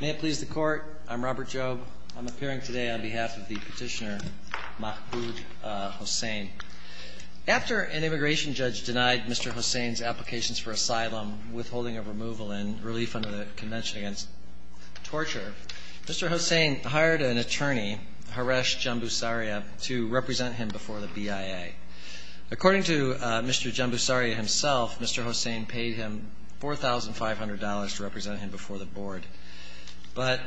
May it please the Court, I'm Robert Jobe. I'm appearing today on behalf of the petitioner Mahbub Hossain. After an immigration judge denied Mr. Hossain's applications for asylum, withholding of removal, and relief under the Convention Against Torture, Mr. Hossain hired an attorney, Horesh Jambusaria, to represent him before the BIA. According to Mr. Jambusaria himself, Mr. Hossain paid him $4,500 to represent him before the Board. But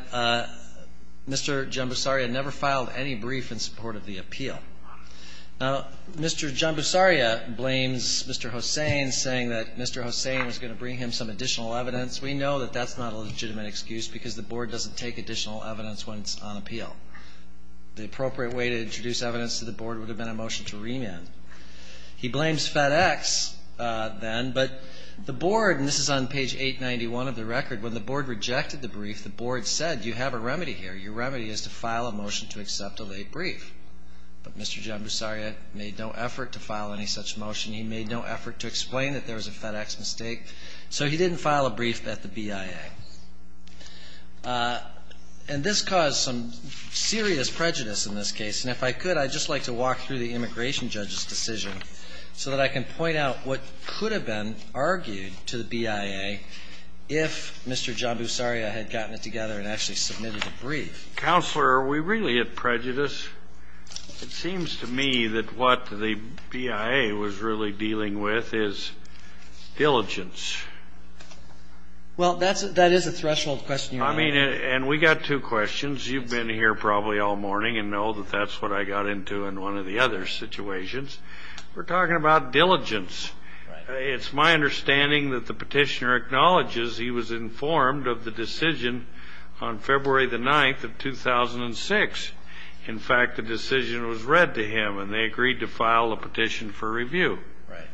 Mr. Jambusaria never filed any brief in support of the appeal. Now, Mr. Jambusaria blames Mr. Hossain, saying that Mr. Hossain was going to bring him some additional evidence. We know that that's not a legitimate excuse because the Board doesn't take additional evidence when it's on appeal. The appropriate way to introduce evidence to the Board would have been a motion to remand. He blames FedEx then, but the Board, and this is on page 891 of the record, when the Board rejected the brief, the Board said, you have a remedy here. Your remedy is to file a motion to accept a late brief. But Mr. Jambusaria made no effort to file any such motion. He made no effort to explain that there was a FedEx mistake. So he didn't file a brief at the BIA. And this caused some serious prejudice in this case. And if I could, I'd just like to walk through the immigration judge's decision so that I can point out what could have been argued to the BIA if Mr. Jambusaria had gotten it together and actually submitted a brief. Counselor, are we really at prejudice? It seems to me that what the BIA was really dealing with is diligence. Well, that is a threshold question, Your Honor. I mean, and we got two questions. You've been here probably all morning and know that that's what I got into in one of the other situations. We're talking about diligence. It's my understanding that the Petitioner acknowledges he was informed of the decision on February the 9th of 2006. In fact, the decision was read to him, and they agreed to file a petition for review. Right.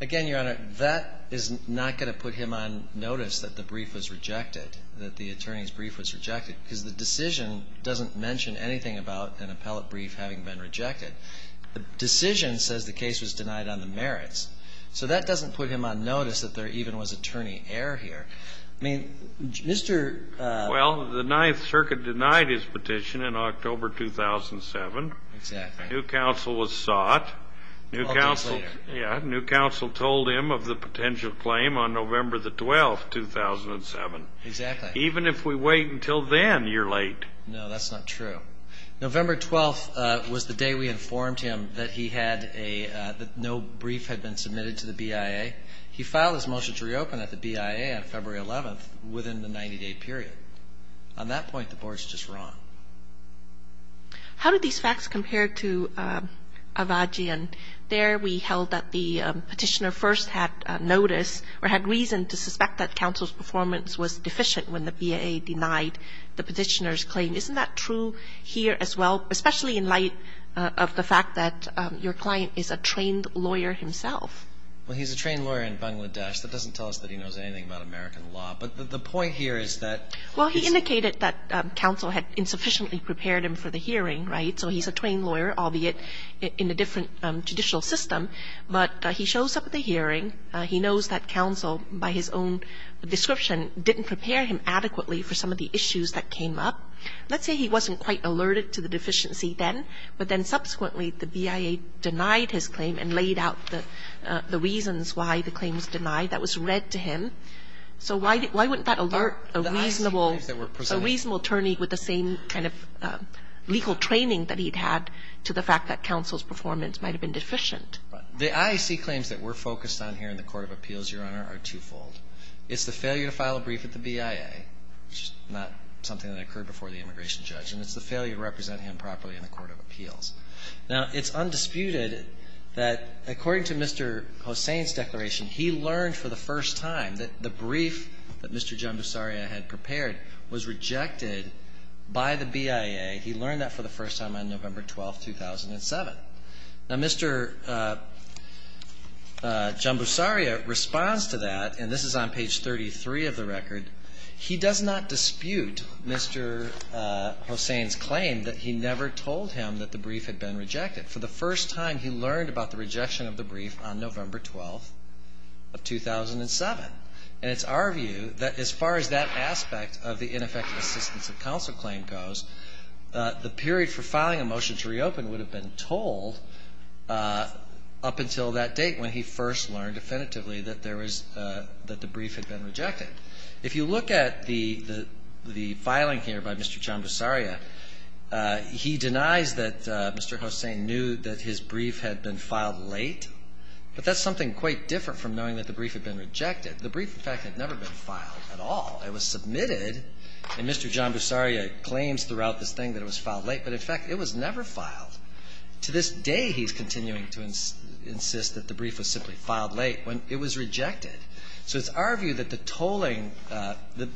Again, Your Honor, that is not going to put him on notice that the brief was rejected, that the attorney's brief was rejected, because the decision doesn't mention anything about an appellate brief having been rejected. The decision says the case was denied on the merits. So that doesn't put him on notice that there even was attorney error here. I mean, Mr. Well, the Ninth Circuit denied his petition in October 2007. Exactly. New counsel was sought. New counsel told him of the potential claim on November the 12th, 2007. Exactly. Even if we wait until then, you're late. No, that's not true. November 12th was the day we informed him that he had a no brief had been submitted to the BIA. He filed his motion to reopen at the BIA on February 11th within the 90-day period. On that point, the Board's just wrong. How do these facts compare to Avagian? There we held that the Petitioner first had notice or had reason to suspect that counsel's performance was deficient when the BIA denied the Petitioner's claim. Isn't that true here as well, especially in light of the fact that your client is a trained lawyer himself? Well, he's a trained lawyer in Bangladesh. That doesn't tell us that he knows anything about American law. But the point here is that he's Well, he indicated that counsel had insufficiently prepared him for the hearing, right? So he's a trained lawyer, albeit in a different judicial system. But he shows up at the hearing. He knows that counsel, by his own description, didn't prepare him adequately for some of the issues that came up. Let's say he wasn't quite alerted to the deficiency then, but then subsequently the BIA denied his claim and laid out the reasons why the claim was denied. That was read to him. So why wouldn't that alert a reasonable attorney with the same kind of legal training that he'd had to the fact that counsel's performance might have been deficient? The IAC claims that we're focused on here in the court of appeals, Your Honor, are twofold. It's the failure to file a brief with the BIA, which is not something that occurred before the immigration judge, and it's the failure to represent him properly in the court of appeals. Now, it's undisputed that, according to Mr. Hossain's declaration, he learned for the first time that the brief that Mr. Jambusaria had prepared was rejected by the BIA. He learned that for the first time on November 12, 2007. Now, Mr. Jambusaria responds to that, and this is on page 33 of the record. He does not dispute Mr. Hossain's claim that he never told him that the brief had been rejected. For the first time, he learned about the rejection of the brief on November 12 of 2007. And it's our view that as far as that aspect of the ineffective assistance of counsel claim goes, the period for filing a motion to reopen would have been told up until that date when he first learned definitively that the brief had been rejected. If you look at the filing here by Mr. Jambusaria, he denies that Mr. Hossain knew that his brief had been filed late, but that's something quite different from knowing that the brief had been rejected. The brief, in fact, had never been filed at all. It was submitted, and Mr. Jambusaria claims throughout this thing that it was filed late, but, in fact, it was never filed. To this day, he's continuing to insist that the brief was simply filed late when it was rejected. So it's our view that the tolling, the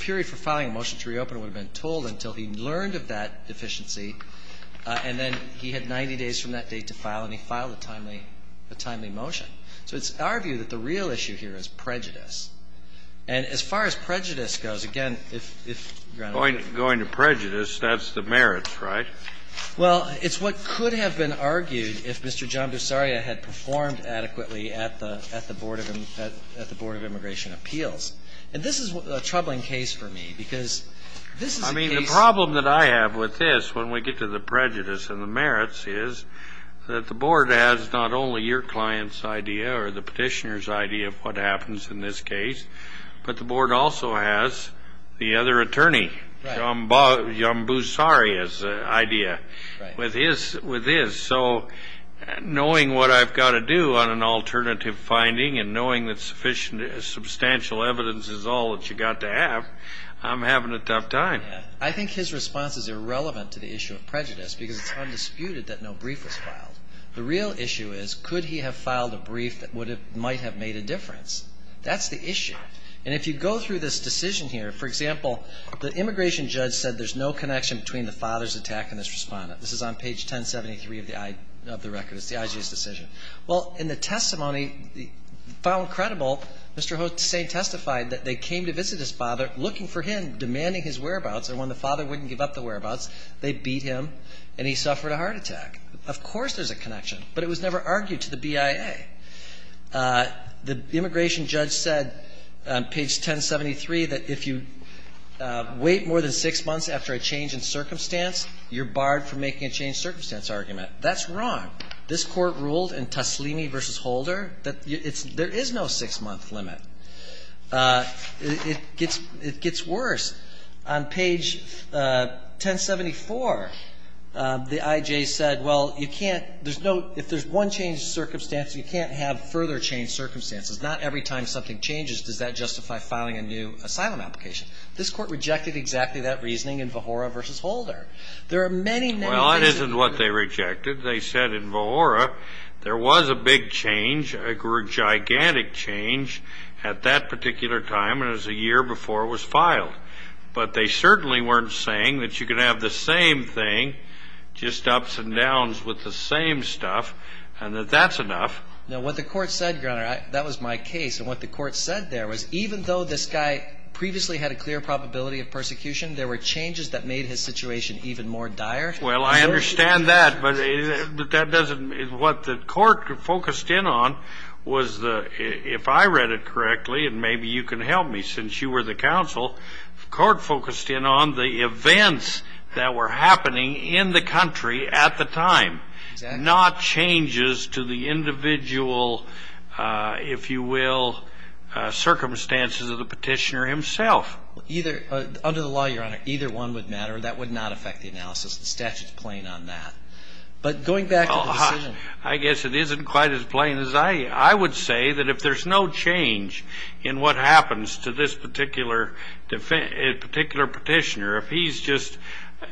period for filing a motion to reopen would have been told until he learned of that deficiency, and then he had 90 days from that date to file, and he filed a timely motion. So it's our view that the real issue here is prejudice. And as far as prejudice goes, again, if, Your Honor ---- Kennedy, going to prejudice, that's the merits, right? Well, it's what could have been argued if Mr. Jambusaria had performed adequately at the Board of Immigration Appeals. And this is a troubling case for me, because this is a case ---- I mean, the problem that I have with this, when we get to the prejudice and the merits, is that the Board has not only your client's idea or the petitioner's idea of what happens in this case, but the Board also has the other attorney, Jambusaria's, idea with his. So knowing what I've got to do on an alternative finding and knowing that substantial evidence is all that you've got to have, I'm having a tough time. I think his response is irrelevant to the issue of prejudice, because it's undisputed that no brief was filed. The real issue is, could he have filed a brief that would have ---- might have made a difference? That's the issue. And if you go through this decision here, for example, the immigration judge said there's no connection between the father's attack and this Respondent. This is on page 1073 of the I ---- of the record. It's the IG's decision. Well, in the testimony, found credible, Mr. Hotezain testified that they came to visit his father, looking for him, demanding his whereabouts, and when the father wouldn't give up the whereabouts, they beat him and he suffered a heart attack. Of course there's a connection, but it was never argued to the BIA. The immigration judge said on page 1073 that if you wait more than six months after a change in circumstance, you're barred from making a changed circumstance argument. That's wrong. This Court ruled in Taslimi v. Holder that it's ---- there is no six-month limit. It gets worse. On page 1074, the IJ said, well, you can't ---- there's no ---- if there's one changed circumstance, you can't have further changed circumstances. Not every time something changes does that justify filing a new asylum application. This Court rejected exactly that reasoning in Vahora v. Holder. There are many, many things that you can do. Well, that isn't what they rejected. They said in Vahora there was a big change, a gigantic change at that particular time, and it was a year before it was filed. But they certainly weren't saying that you could have the same thing, just ups and downs with the same stuff, and that that's enough. Now, what the Court said, Your Honor, that was my case, and what the Court said there was even though this guy previously had a clear probability of persecution, there were changes that made his situation even more dire. Well, I understand that. But that doesn't ---- what the Court focused in on was the ---- if I read it correctly, and maybe you can help me since you were the counsel, the Court focused in on the events that were happening in the country at the time. Exactly. Not changes to the individual, if you will, circumstances of the petitioner himself. Either ---- under the law, Your Honor, either one would matter. That would not affect the analysis. The statute is plain on that. But going back to the decision ---- I guess it isn't quite as plain as I would say that if there's no change in what happens to this particular petitioner, if he's just ----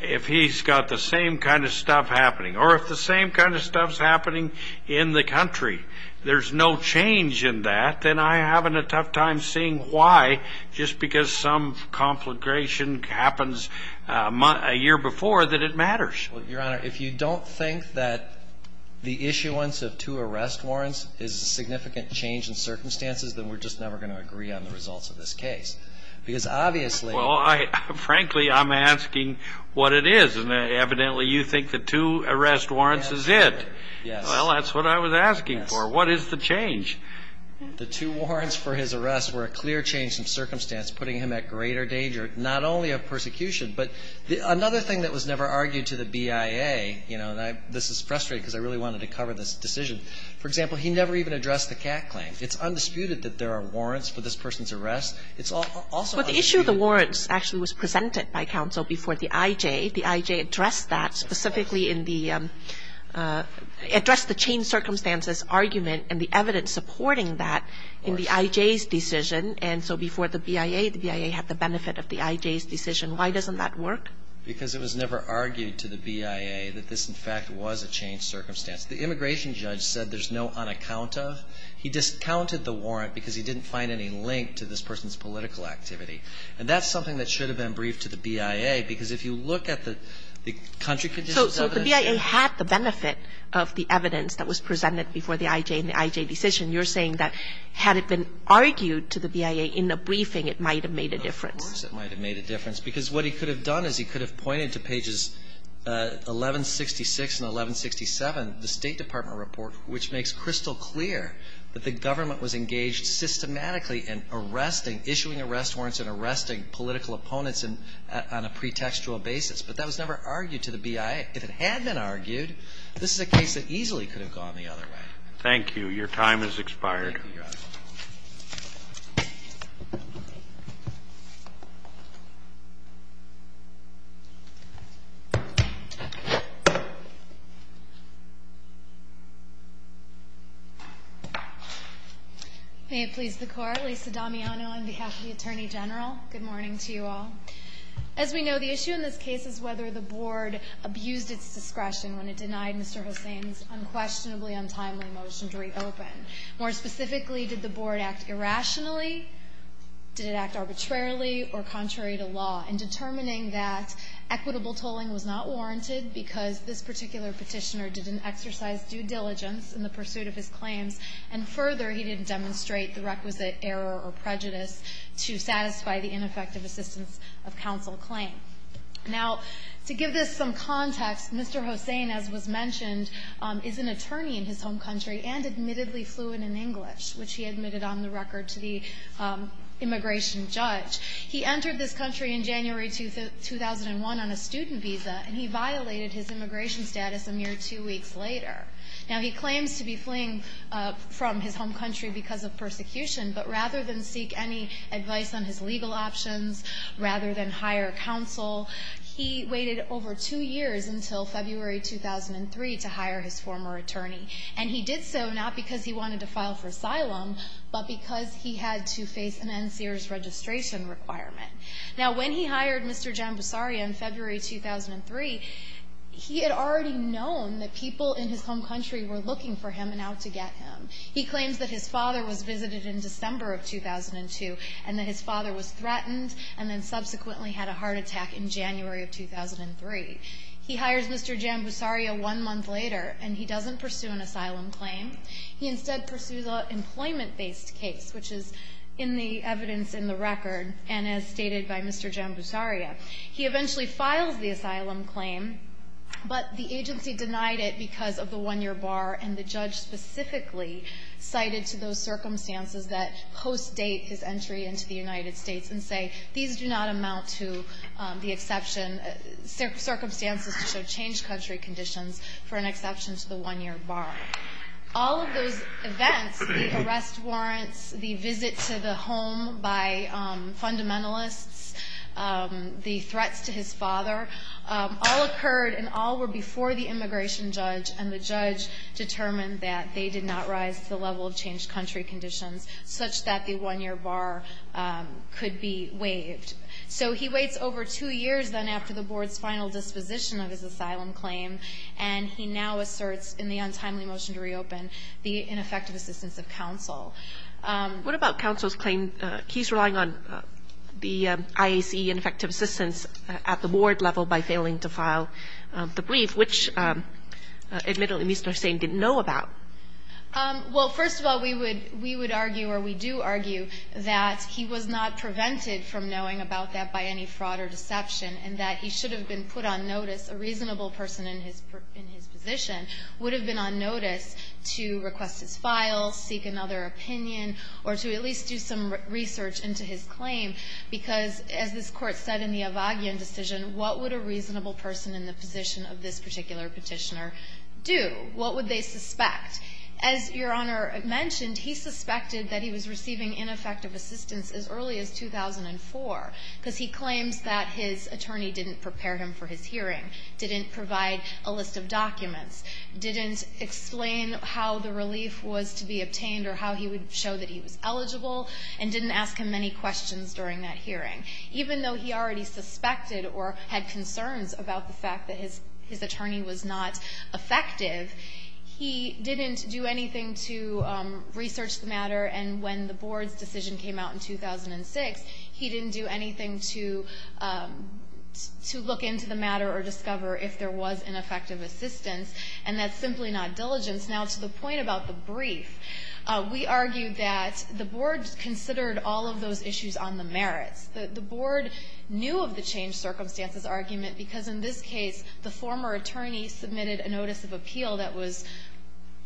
if he's got the same kind of stuff happening, or if the same kind of stuff's happening in the country, there's no change in that, then I'm having a tough time seeing why just because some conflagration happens a year before that it matters. Well, Your Honor, if you don't think that the issuance of two arrest warrants is a significant change in circumstances, then we're just never going to agree on the results of this case. Because obviously ---- Well, I ---- frankly, I'm asking what it is. And evidently you think the two arrest warrants is it. Yes. Well, that's what I was asking for. Yes. What is the change? The two warrants for his arrest were a clear change in circumstance, putting him at greater danger, not only of persecution, but another thing that was never argued to the BIA, you know, and I ---- this is frustrating because I really wanted to cover this decision. For example, he never even addressed the CAC claim. It's undisputed that there are warrants for this person's arrest. It's also undisputed ---- But the issue of the warrants actually was presented by counsel before the IJ. The IJ addressed that specifically in the ---- addressed the changed circumstances argument and the evidence supporting that in the IJ's decision. And so before the BIA, the BIA had the benefit of the IJ's decision. Why doesn't that work? Because it was never argued to the BIA that this, in fact, was a changed circumstance. The immigration judge said there's no unaccounta. He discounted the warrant because he didn't find any link to this person's political activity. And that's something that should have been briefed to the BIA because if you look at the country ---- So the BIA had the benefit of the evidence that was presented before the IJ in the IJ decision. You're saying that had it been argued to the BIA in the briefing, it might have made a difference. Of course it might have made a difference because what he could have done is he could have pointed to pages 1166 and 1167, the State Department report, which makes crystal clear that the government was engaged systematically in arresting, issuing arrest warrants and arresting political opponents on a pretextual basis. But that was never argued to the BIA. If it had been argued, this is a case that easily could have gone the other way. Thank you. Your time has expired. Thank you, Your Honor. May it please the Court. Lisa Damiano on behalf of the Attorney General. Good morning to you all. As we know, the issue in this case is whether the Board abused its discretion when it denied Mr. Hossain's unquestionably untimely motion to reopen. More specifically, did the Board act irrationally, did it act arbitrarily or contrary to law in determining that equitable tolling was not warranted because this particular Petitioner didn't exercise due diligence in the pursuit of his claims, and further, he didn't demonstrate the requisite error or prejudice to satisfy the ineffective assistance of counsel claim. Now, to give this some context, Mr. Hossain, as was mentioned, is an attorney in his home country and admittedly fluent in English, which he admitted on the record to the immigration judge. He entered this country in January 2001 on a student visa, and he violated his immigration status a mere two weeks later. Now, he claims to be fleeing from his home country because of persecution, but rather than seek any advice on his legal options, rather than hire counsel, he waited over two years until February 2003 to hire his former attorney. And he did so not because he wanted to file for asylum, but because he had to face an NSEERS registration requirement. Now, when he hired Mr. Jambusaria in February 2003, he had already known that people in his home country were looking for him and out to get him. He claims that his father was visited in December of 2002, and that his father was threatened and then subsequently had a heart attack in January of 2003. He hires Mr. Jambusaria one month later, and he doesn't pursue an asylum claim. He instead pursues an employment-based case, which is in the evidence in the record and as stated by Mr. Jambusaria. He eventually files the asylum claim, but the agency denied it because of the one-year bar and the judge specifically cited to those circumstances that post-date his entry into the United States and say these do not amount to the exception, circumstances to show changed country conditions for an exception to the one-year bar. All of those events, the arrest warrants, the visit to the home by fundamentalists, the threats to his father, all occurred and all were before the immigration judge, and the judge determined that they did not rise to the level of changed country conditions such that the one-year bar could be waived. So he waits over two years, then, after the board's final disposition of his asylum claim, and he now asserts in the untimely motion to reopen the ineffective assistance of counsel. What about counsel's claim he's relying on the IAC ineffective assistance at the board level by failing to file the brief, which admittedly Mr. Hussain didn't know about? Well, first of all, we would argue, or we do argue that he was not prevented from knowing about that by any fraud or deception, and that he should have been put on notice. A reasonable person in his position would have been on notice to request his files, seek another opinion, or to at least do some research into his claim, because as this court said in the Avagyon decision, what would a reasonable person in the position of this particular petitioner do? What would they suspect? As Your Honor mentioned, he suspected that he was receiving ineffective assistance as early as 2004, because he claims that his attorney didn't prepare him for his hearing, didn't provide a list of documents, didn't explain how the relief was to be obtained or how he would show that he was eligible, and didn't ask him any questions during that hearing. Even though he already suspected or had concerns about the fact that his attorney was not effective, he didn't do anything to research the matter. And when the board's decision came out in 2006, he didn't do anything to look into the matter or discover if there was ineffective assistance, and that's simply not diligence. Now, to the point about the brief, we argue that the board considered all of those issues on the merits. The board knew of the changed circumstances argument, because in this case, the former attorney submitted a notice of appeal that was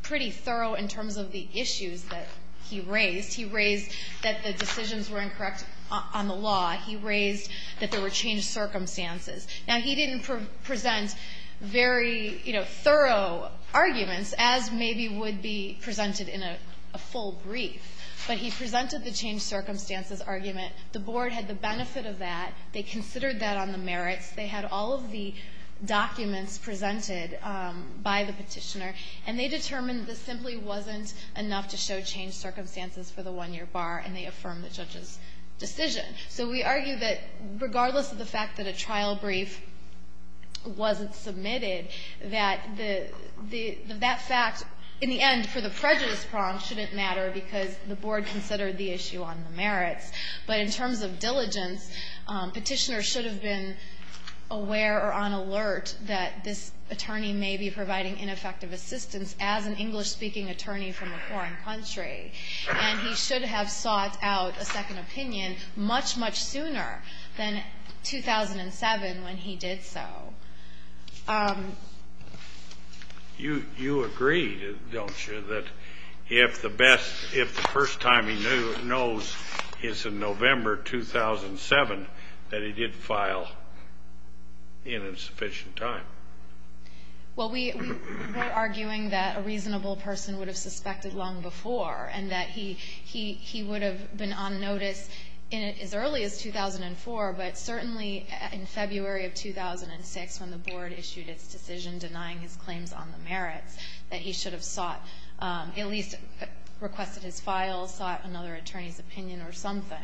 pretty thorough in terms of the issues that he raised. He raised that the decisions were incorrect on the law. He raised that there were changed circumstances. Now, he didn't present very thorough arguments, as maybe would be presented in a full brief, but he presented the changed circumstances argument. The board had the benefit of that. They considered that on the merits. They had all of the documents presented by the Petitioner, and they determined this simply wasn't enough to show changed circumstances for the one-year bar, and they affirmed the judge's decision. So we argue that regardless of the fact that a trial brief wasn't submitted, that the — that fact, in the end, for the prejudice prong, shouldn't matter because the board considered the issue on the merits. But in terms of diligence, Petitioner should have been aware or on alert that this attorney may be providing ineffective assistance as an English-speaking attorney from a foreign country. And he should have sought out a second opinion much, much sooner than 2007 when he did so. You agree, don't you, that if the best — if the first time he knows his case in November 2007, that he did file in insufficient time? Well, we're arguing that a reasonable person would have suspected long before and that he would have been on notice as early as 2004, but certainly in February of 2006, when the board issued its decision denying his claims on the merits, that he should have sought — at least requested his file, sought another attorney's opinion or something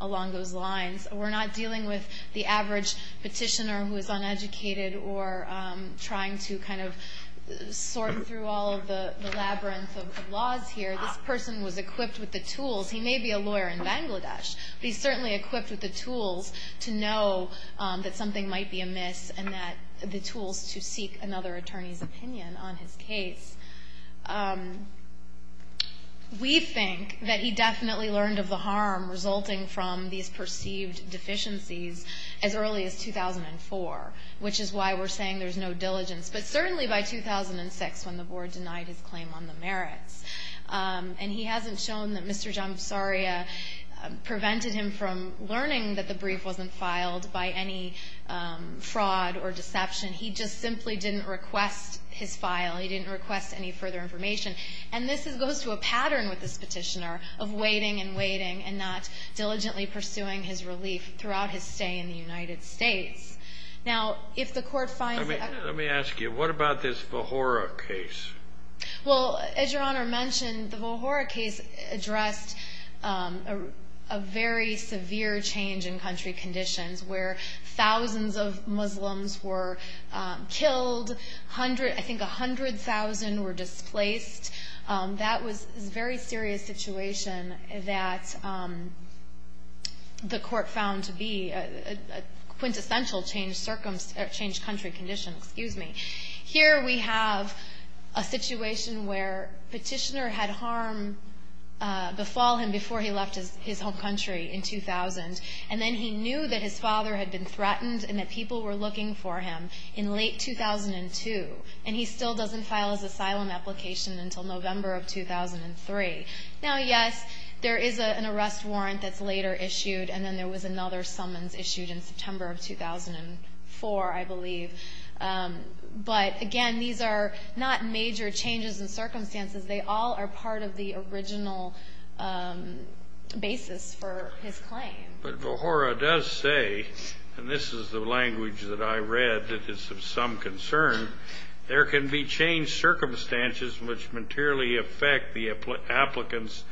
along those lines. We're not dealing with the average petitioner who is uneducated or trying to kind of sort through all of the labyrinth of laws here. This person was equipped with the tools. He may be a lawyer in Bangladesh, but he's certainly equipped with the tools to know that something might be amiss and that — the tools to seek another attorney's opinion on his case. We think that he definitely learned of the harm resulting from these perceived deficiencies as early as 2004, which is why we're saying there's no diligence, but certainly by 2006 when the board denied his claim on the merits. And he hasn't shown that Mr. Jambusaria prevented him from learning that the brief wasn't filed by any fraud or deception. He just simply didn't request his file. He didn't request any further information. And this goes to a pattern with this petitioner of waiting and waiting and not diligently pursuing his relief throughout his stay in the United States. Now, if the court finds that — Let me ask you, what about this Vohora case? Well, as Your Honor mentioned, the Vohora case addressed a very severe change in country conditions where thousands of Muslims were killed. I think 100,000 were displaced. That was a very serious situation that the court found to be a quintessential change country condition. Excuse me. Here we have a situation where petitioner had harm befall him before he left his home country in 2000. And then he knew that his father had been threatened and that people were looking for him in late 2002. And he still doesn't file his asylum application until November of 2003. Now, yes, there is an arrest warrant that's later issued, and then there was another summons issued in September of 2004, I believe. But, again, these are not major changes in circumstances. They all are part of the original basis for his claim. But Vohora does say, and this is the language that I read that is of some concern, there can be changed circumstances which materially affect the applicant's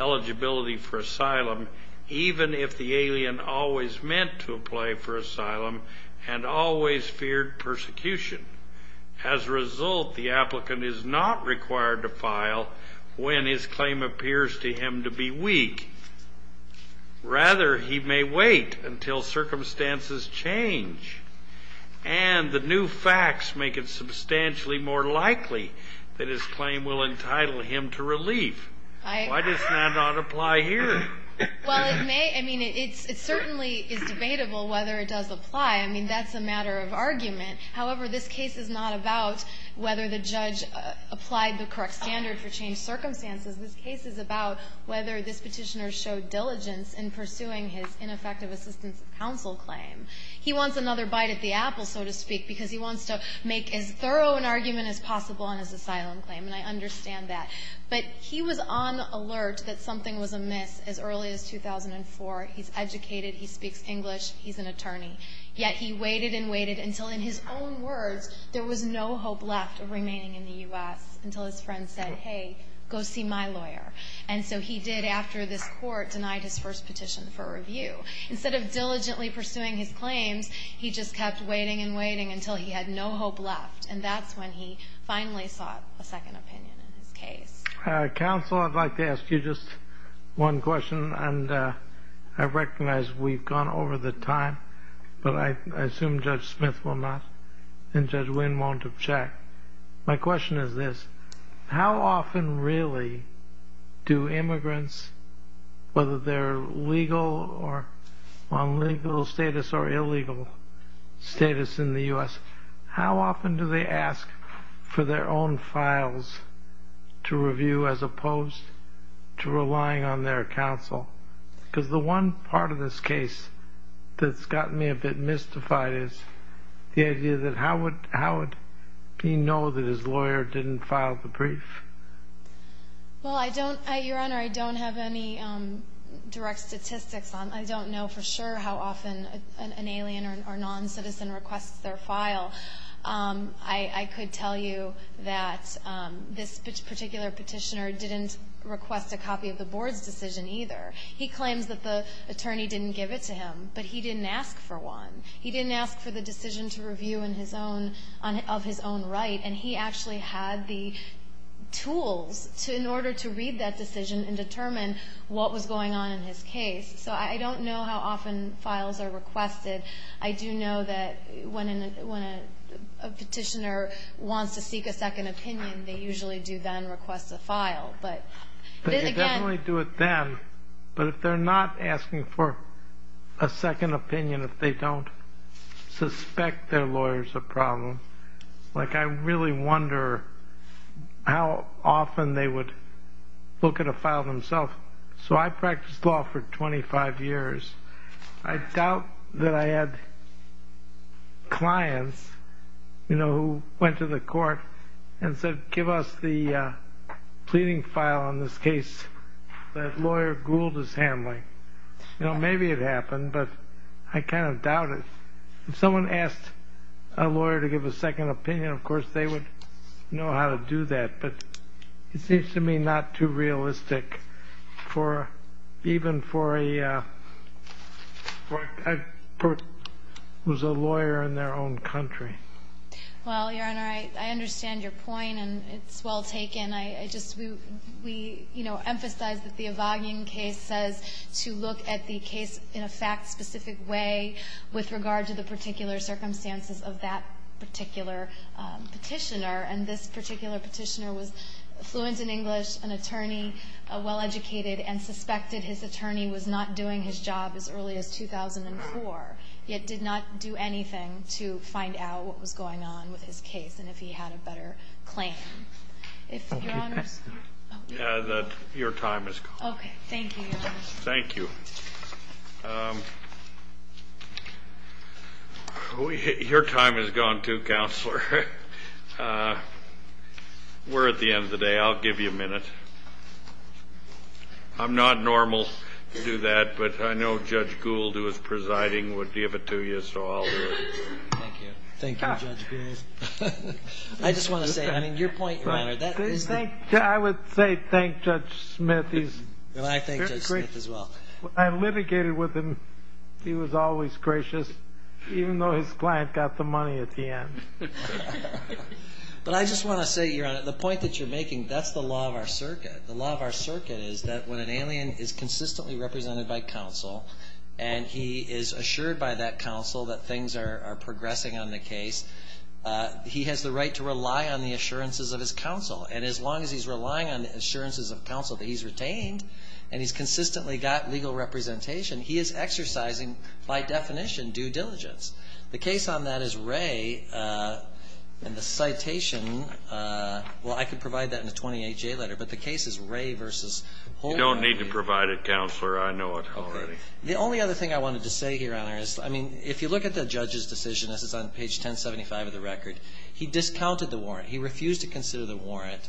eligibility for asylum even if the alien always meant to apply for asylum and always feared persecution. As a result, the applicant is not required to file when his claim appears to him to be weak. Rather, he may wait until circumstances change. And the new facts make it substantially more likely that his claim will entitle him to relief. Why does that not apply here? Well, it may. I mean, it certainly is debatable whether it does apply. I mean, that's a matter of argument. However, this case is not about whether the judge applied the correct standard for changed circumstances. This case is about whether this petitioner showed diligence in pursuing his ineffective assistance of counsel claim. He wants another bite at the apple, so to speak, because he wants to make as thorough an argument as possible on his asylum claim. And I understand that. But he was on alert that something was amiss as early as 2004. He's educated. He speaks English. He's an attorney. Yet he waited and waited until, in his own words, there was no hope left of remaining in the U.S. until his friend said, hey, go see my lawyer. And so he did after this court denied his first petition for review. Instead of diligently pursuing his claims, he just kept waiting and waiting until he had no hope left. And that's when he finally sought a second opinion in his case. Counsel, I'd like to ask you just one question. And I recognize we've gone over the time, but I assume Judge Smith will not and Judge Winn won't object. My question is this. How often really do immigrants, whether they're legal or on legal status or illegal status in the U.S., how often do they ask for their own files to review as opposed to relying on their counsel? Because the one part of this case that's gotten me a bit mystified is the idea that how would he know that his lawyer didn't file the brief? Well, Your Honor, I don't have any direct statistics on it. I don't know for sure how often an alien or noncitizen requests their file. I could tell you that this particular petitioner didn't request a copy of the board's decision either. He claims that the attorney didn't give it to him, but he didn't ask for one. He didn't ask for the decision to review in his own, of his own right, and he actually had the tools in order to read that decision and determine what was going on in his case. So I don't know how often files are requested. I do know that when a petitioner wants to seek a second opinion, they usually do then request a file. But again ---- I suspect their lawyer's a problem. Like, I really wonder how often they would look at a file themselves. So I practiced law for 25 years. I doubt that I had clients, you know, who went to the court and said, give us the pleading file on this case that lawyer Gould is handling. You know, maybe it happened, but I kind of doubt it. If someone asked a lawyer to give a second opinion, of course, they would know how to do that. But it seems to me not too realistic, even for a person who's a lawyer in their own country. Well, Your Honor, I understand your point, and it's well taken. And I just ---- we, you know, emphasize that the Evagian case says to look at the case in a fact-specific way with regard to the particular circumstances of that particular petitioner. And this particular petitioner was fluent in English, an attorney, well educated, and suspected his attorney was not doing his job as early as 2004, yet did not do anything to find out what was going on with his case and if he had a better claim. If Your Honor? Your time has gone. Okay. Thank you, Your Honor. Thank you. Your time has gone, too, Counselor. We're at the end of the day. I'll give you a minute. I'm not normal to do that, but I know Judge Gould, who is presiding, would give it to you, so I'll do it. Thank you. Thank you, Judge Gould. I just want to say, I mean, your point, Your Honor. I would say thank Judge Smith. I thank Judge Smith as well. I litigated with him. He was always gracious, even though his client got the money at the end. But I just want to say, Your Honor, the point that you're making, that's the law of our circuit. The law of our circuit is that when an alien is consistently represented by counsel and he is assured by that counsel that things are progressing on the right track, he has the right to rely on the assurances of his counsel. And as long as he's relying on the assurances of counsel that he's retained and he's consistently got legal representation, he is exercising, by definition, due diligence. The case on that is Ray and the citation, well, I could provide that in a 28-J letter, but the case is Ray versus Holman. You don't need to provide it, Counselor. I know it already. The only other thing I wanted to say here, Your Honor, is, I mean, if you look at the judge's decision, this is on page 1075 of the record, he discounted the warrant. He refused to consider the warrant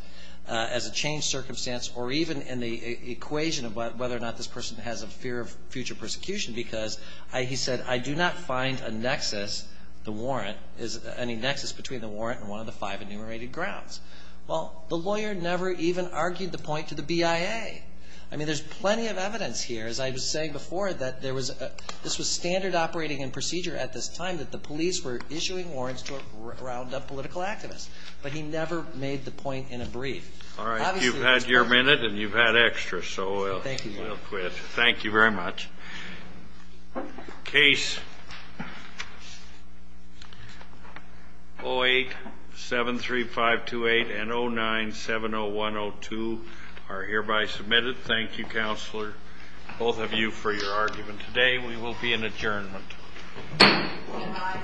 as a changed circumstance or even in the equation of whether or not this person has a fear of future persecution because he said, I do not find a nexus, the warrant, any nexus between the warrant and one of the five enumerated grounds. Well, the lawyer never even argued the point to the BIA. I mean, there's plenty of evidence here. As I was saying before, that there was a this was standard operating and procedure at this time that the police were issuing warrants to round up political activists, but he never made the point in a brief. Obviously, it's important. All right. You've had your minute and you've had extra, so we'll quit. Thank you, Your Honor. Thank you very much. Case 08-73528 and 09-70102 are hereby submitted. Thank you, Counselor. Thank you, both of you, for your argument today. We will be in adjournment. Good night. Good night.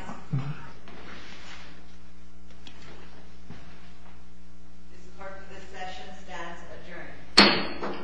This court for this session stands adjourned.